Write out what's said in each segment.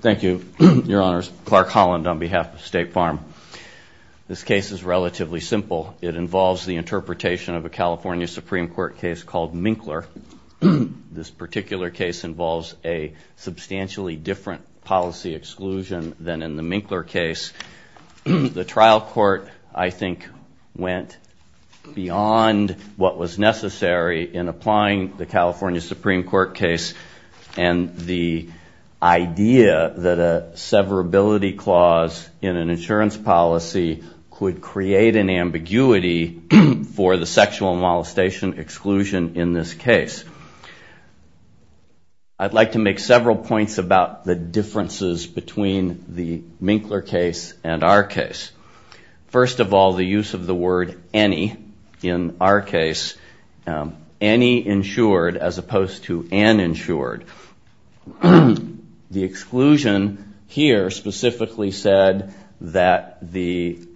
Thank you, Your Honors. Clark Holland on behalf of State Farm. This case is relatively simple. It involves the interpretation of a California Supreme Court case called Minkler. This particular case involves a substantially different policy exclusion than in the Minkler case. The trial court, I think, went beyond what was necessary in applying the California Supreme Court case and the idea that a severability clause in an insurance policy could create an ambiguity for the sexual molestation exclusion in this case. I'd like to make several points about the differences between the Minkler case and our case. First of all, the use of the word any, in our case, any insured as opposed to uninsured. The exclusion here specifically said that the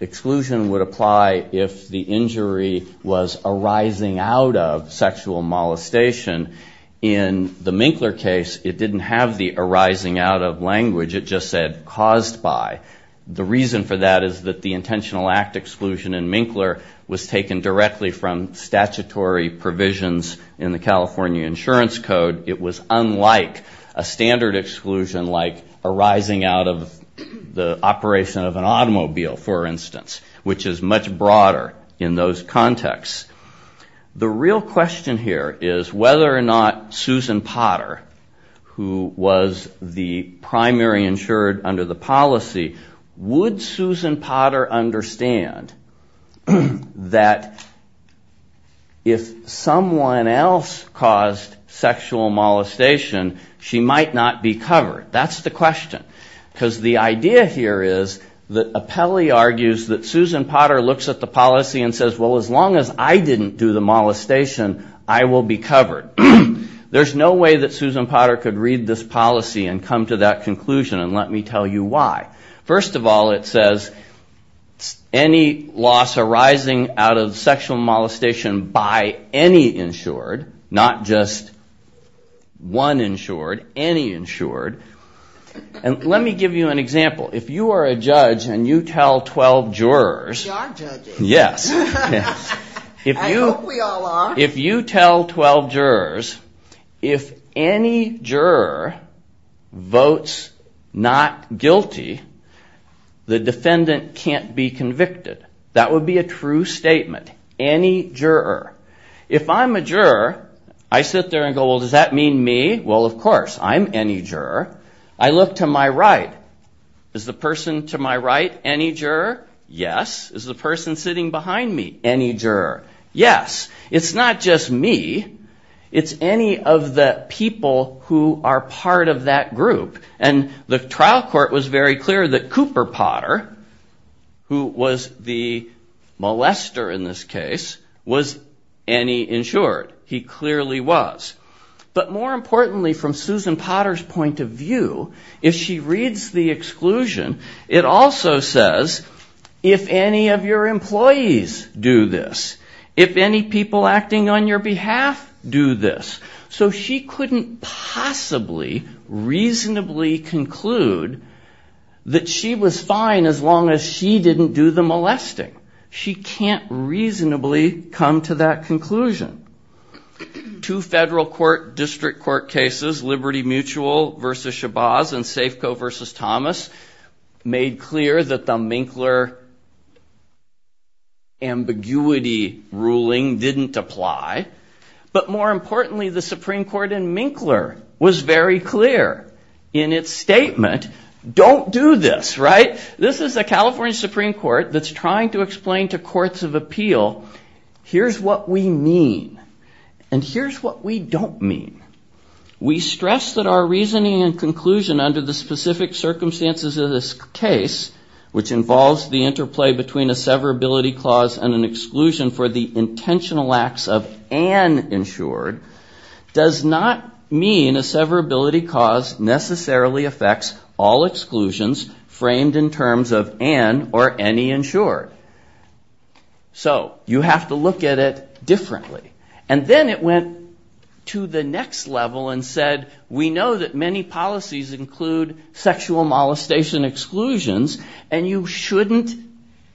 exclusion would apply if the injury was arising out of sexual molestation. In the Minkler case, it didn't have the arising out of language. It just said caused by. The reason for that is that the intentional act exclusion in Minkler was taken directly from statutory provisions in the California Insurance Code. It was unlike a standard exclusion like arising out of the operation of an automobile, for instance, which is much broader in those Susan Potter, who was the primary insured under the policy, would Susan Potter understand that if someone else caused sexual molestation, she might not be covered? That's the question. Because the idea here is that Apelli argues that Susan Potter looks at the policy and will be covered. There's no way that Susan Potter could read this policy and come to that conclusion and let me tell you why. First of all, it says any loss arising out of sexual molestation by any insured, not just one insured, any insured. And let me give you an example. If you are a judge and you tell 12 jurors, if any juror votes not guilty, the defendant can't be convicted. That would be a true statement. Any juror. If I'm a juror, I sit there and go, well, does that mean me? Well, of course, I'm any juror. I look to my right. Is the person to my right any juror? Yes. Is the person sitting behind me any juror? Yes. It's not just me. It's any of the people who are part of that group. And the trial court was very clear that Cooper Potter, who was the molester in this case, was any insured. He clearly was. But more importantly, from Susan Potter's point of view, if she reads the exclusion, it also says if any of your employees do this, if any people acting on your behalf do this. So she couldn't possibly reasonably conclude that she was fine as she didn't do the molesting. She can't reasonably come to that conclusion. Two federal court district court cases, Liberty Mutual versus Shabazz and Safeco versus Thomas, made clear that the Minkler ambiguity ruling didn't apply. But more importantly, the Supreme Court in Minkler was very clear in its statement, don't do this. This is the California Supreme Court that's trying to explain to courts of appeal, here's what we mean. And here's what we don't mean. We stress that our reasoning and conclusion under the specific circumstances of this case, which involves the interplay between a severability clause and an exclusion for the intentional acts of an insured, does not mean a severability cause necessarily affects all exclusions framed in terms of an or any insured. So you have to look at it differently. And then it went to the next level and said, we know that many policies include sexual molestation exclusions, and you shouldn't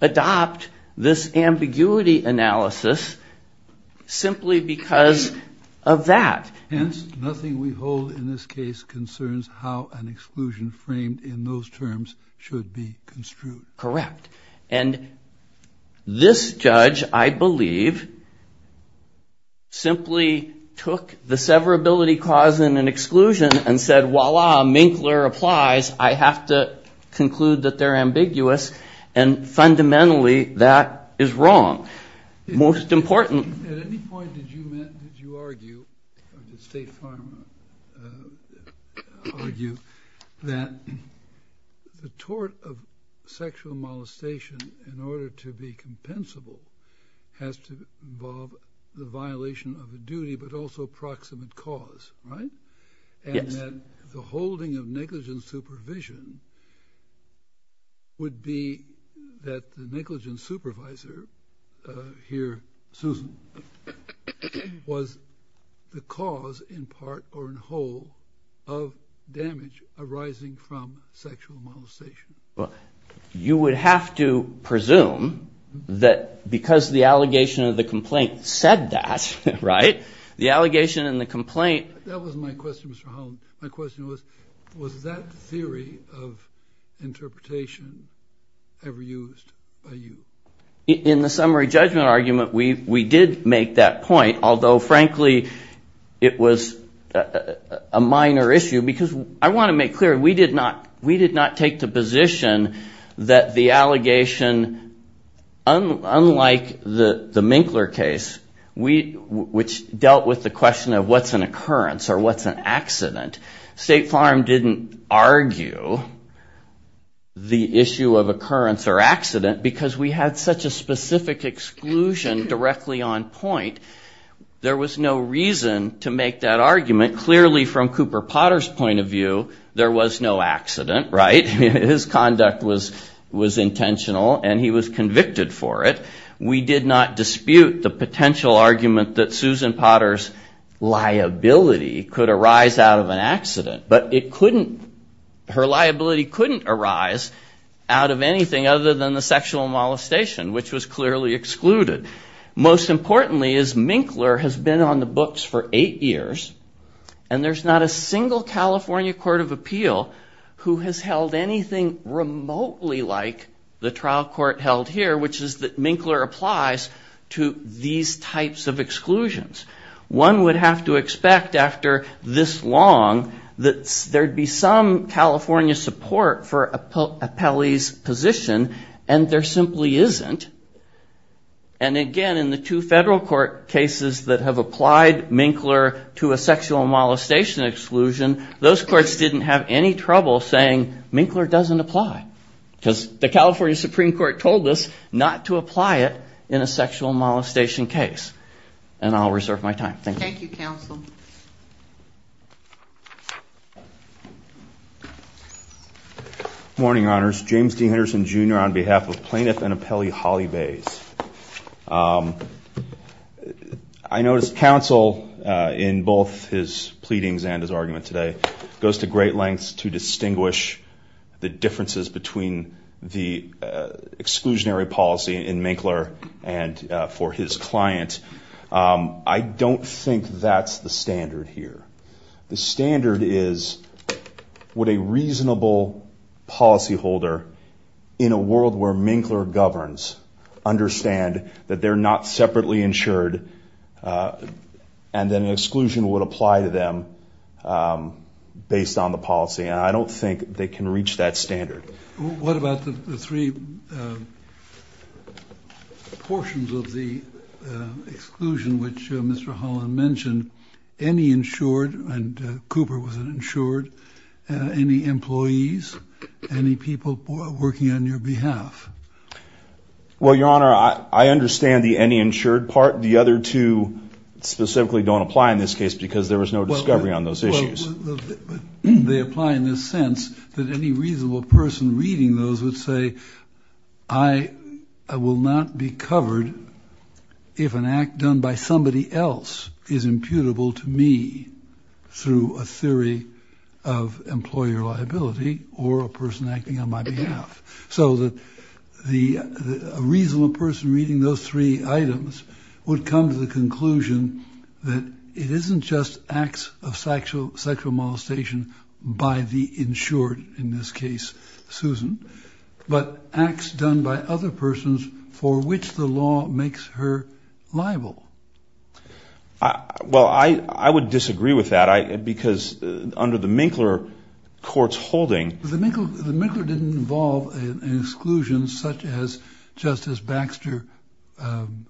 adopt this ambiguity analysis simply because of that. Hence, nothing we hold in this case concerns how an exclusion framed in those terms should be construed. Correct. And this judge, I believe, simply took the severability clause in an exclusion and said, voila, Minkler applies, I have to conclude that they're ambiguous. And fundamentally, that is wrong. Most important. At any point, did you argue that the tort of sexual molestation, in order to be compensable, has to involve the violation of the duty, but also proximate cause, right? And the holding of negligent supervision would be that the negligent supervisor here, Susan, was the cause in part or in whole of damage arising from sexual molestation. Well, you would have to presume that because the allegation of the complaint said that, right? The allegation in the complaint... That was my question, Mr. Holland. My question was, was that theory of interpretation ever used by you? In the summary judgment argument, we did make that point, although frankly, it was a minor issue because I want to make clear, we did not take the position that the allegation, unlike the Minkler case, which dealt with the question of what's an occurrence or what's an accident, State Farm didn't argue the issue of occurrence or accident because we had such a specific exclusion directly on point. There was no reason to make that argument. Clearly, from Cooper Potter's point of view, there was no accident, right? His conduct was intentional and he was convicted for it. We did not dispute the potential argument that Susan Potter's liability could arise out of an accident, but her liability couldn't arise out of anything other than the sexual molestation, which was clearly excluded. Most importantly is Minkler has been on the books for eight years and there's not a single California court of appeal who has held anything remotely like the trial court held here, which is that Minkler applies to these types of exclusions. One would have to expect after this long that there'd be some California support for Appelli's position and there simply isn't. And again, in the two federal court cases that have applied Minkler to a sexual molestation exclusion, those courts didn't have any trouble saying Minkler doesn't apply because the California Supreme Court told us not to apply it in a sexual molestation case. And I'll reserve my time. Thank you, counsel. Morning, honors. James D. Henderson, Jr. on behalf of plaintiff and appellee Holly Bays. I noticed counsel in both his pleadings and his argument today goes to great lengths to distinguish the differences between the exclusionary policy in Minkler and for his client. I don't think that's the standard here. The standard is would a reasonable policyholder in a world where Minkler governs understand that they're not separately insured and then an exclusion would apply to them based on the policy. And I don't think they can reach that standard. What about the three portions of the exclusion which Mr. Holland mentioned? Any insured, and Cooper was an insured, any employees, any people working on your behalf? Well, your honor, I understand the any insured part. The other two specifically don't apply in this case because there was no discovery on those issues. They apply in this sense that any reasonable person reading those would say, I will not be covered if an act done by somebody else is imputable to me through a theory of employer liability or a person acting on my behalf. So that the reasonable person reading those three items would come to the conclusion that it isn't just acts of sexual molestation by the insured, in this case, Susan, but acts done by other persons for which the law makes her liable. Well, I would disagree with that because under the Minkler court's holding... The Minkler didn't involve an exclusion such as Justice Baxter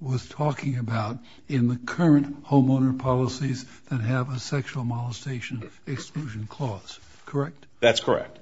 was talking about in the current homeowner policies that have a sexual molestation exclusion clause, correct? That's correct.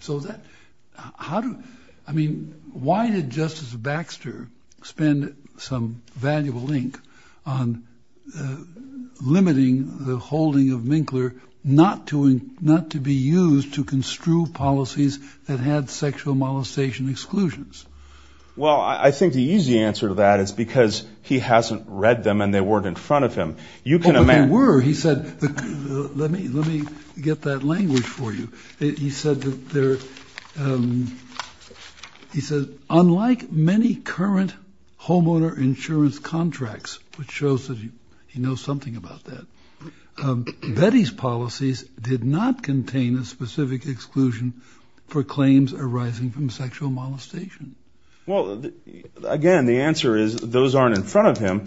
So that, how do, I mean, why did Justice Baxter spend some valuable ink on limiting the holding of Minkler not to be used to construe policies that had sexual molestation exclusions? Well, I think the easy answer to that is because he hasn't read them and they weren't in front of him. You can imagine... But they were, he said, let me get that language for you. He said that they're, he said, unlike many current homeowner insurance contracts, which shows that he knows something about that, Betty's policies did not contain a specific exclusion for claims arising from sexual molestation. Well, again, the answer is those aren't in front of him.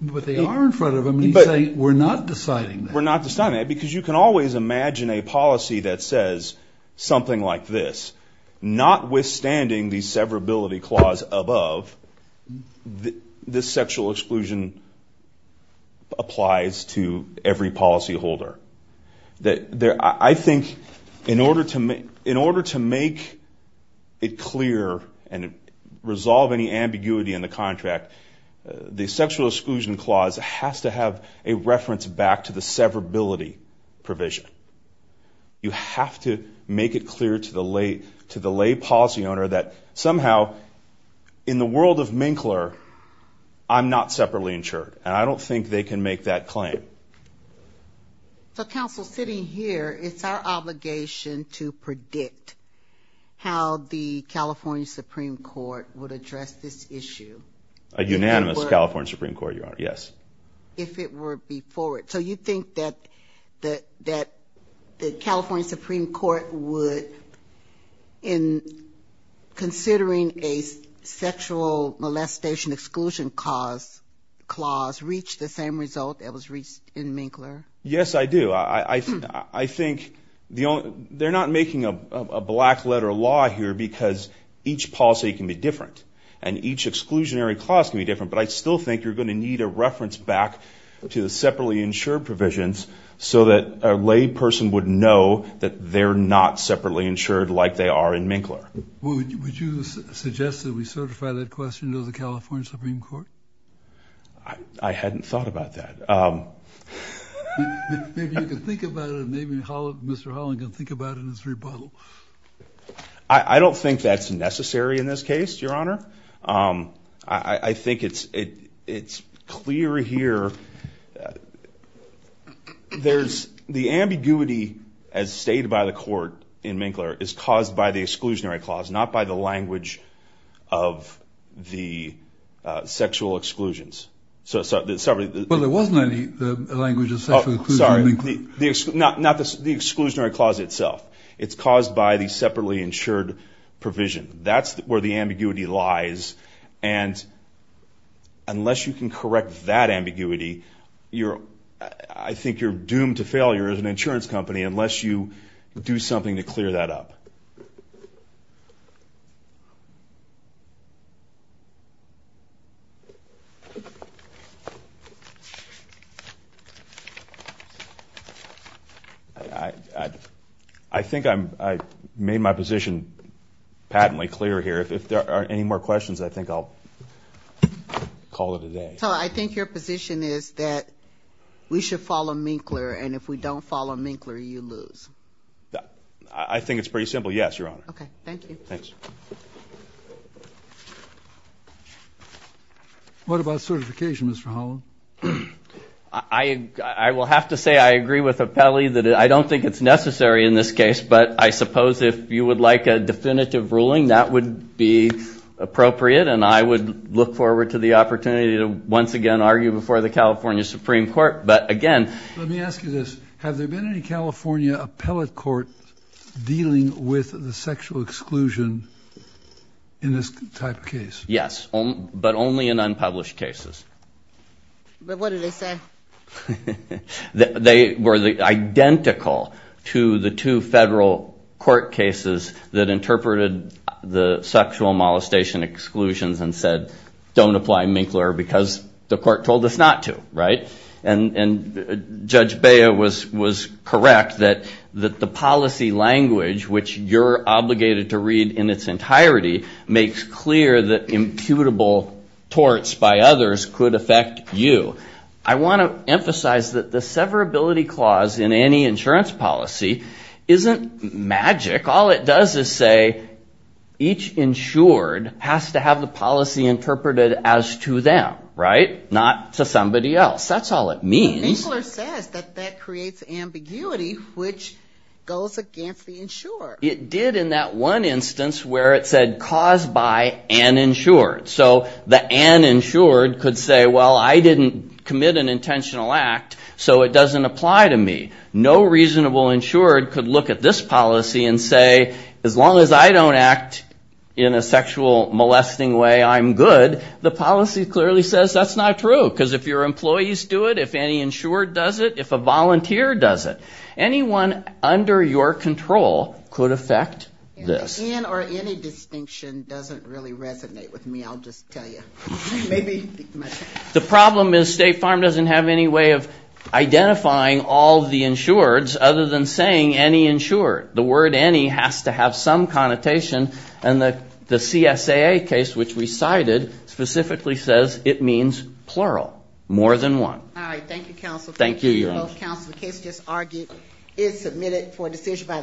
But they are in front of him and he's saying, we're not deciding that. We're not deciding that because you can always imagine a policy that says something like this, notwithstanding the severability clause above, this sexual exclusion applies to every policyholder. I think in order to make it clear and resolve any ambiguity in the contract, the sexual exclusion clause has to have a reference back to the severability provision. You have to make it clear to the lay policy owner that somehow in the world of Minkler, I'm not separately insured and I don't think they can make that claim. So counsel, sitting here, it's our obligation to predict how the California Supreme Court would address this issue. A unanimous California Supreme Court, Your Honor. Yes. If it were before it. So you think that the California Supreme Court would, in considering a sexual molestation exclusion clause, reach the same result that was reached in Minkler? Yes, I do. I think they're not making a black letter law here because each policy can be different and each exclusionary clause can be different, but I still think you're going to need a reference back to the separately insured provisions so that a lay person would know that they're not separately insured like they are in Minkler. Would you suggest that we certify that question to the California Supreme Court? I hadn't thought about that. Maybe you can think about it. Maybe Mr. Holland can think about it in his rebuttal. I don't think that's necessary in this case, Your Honor. I think it's clear here. There's the ambiguity as stated by the court in Minkler is caused by the exclusionary clause, not by the language of the sexual exclusions. Well, there wasn't any language of the sexual exclusion in Minkler. Not the exclusionary clause itself. It's caused by the separately insured provision. That's where the ambiguity lies. And unless you can correct that ambiguity, I think you're doomed to failure as an insurance company unless you do something to clear that up. I think I made my position patently clear here. If there are any more questions, I think I'll call it a day. So I think your position is that we should follow Minkler and if we don't follow Minkler, you lose. I think it's pretty simple. Yes, Your Honor. OK, thank you. Thanks. What about certification, Mr. Hollow? I will have to say I agree with Appelli that I don't think it's necessary in this case, but I suppose if you would like a definitive ruling, that would be appropriate. And I would look forward to the opportunity to once again argue before the California Supreme Court. But again, let me ask you this. Have there been any California appellate court dealing with the sexual exclusion in this type of case? Yes, but only in unpublished cases. But what did they say? They were identical to the two federal court cases that interpreted the sexual molestation exclusions and said, don't apply Minkler because the court told us not to. And Judge Bea was correct that the policy language, which you're obligated to read in its entirety, makes clear that imputable torts by others could affect you. I want to emphasize that the severability clause in any insurance policy isn't magic. All it does is say each insured has to have the policy interpreted as to them, not to somebody else. That's all it means. Minkler says that that creates ambiguity, which goes against the insurer. It did in that one instance where it said caused by an insured. So the an insured could say, well, I didn't commit an intentional act, so it doesn't apply to me. No reasonable insured could look at this policy and say, as long as I don't act in a sexual molesting way, I'm good. The policy clearly says that's not true. Because if your employees do it, if any insured does it, if a volunteer does it, anyone under your control could affect this. An or any distinction doesn't really resonate with me. I'll just tell you. The problem is State Farm doesn't have any way of identifying all the insureds other than saying any insured. The word any has to have some connotation, and the CSAA case, which we cited, specifically says it means plural, more than one. All right. Thank you, counsel. Thank you. Your Honor. Counsel, the case just argued is submitted for decision by the.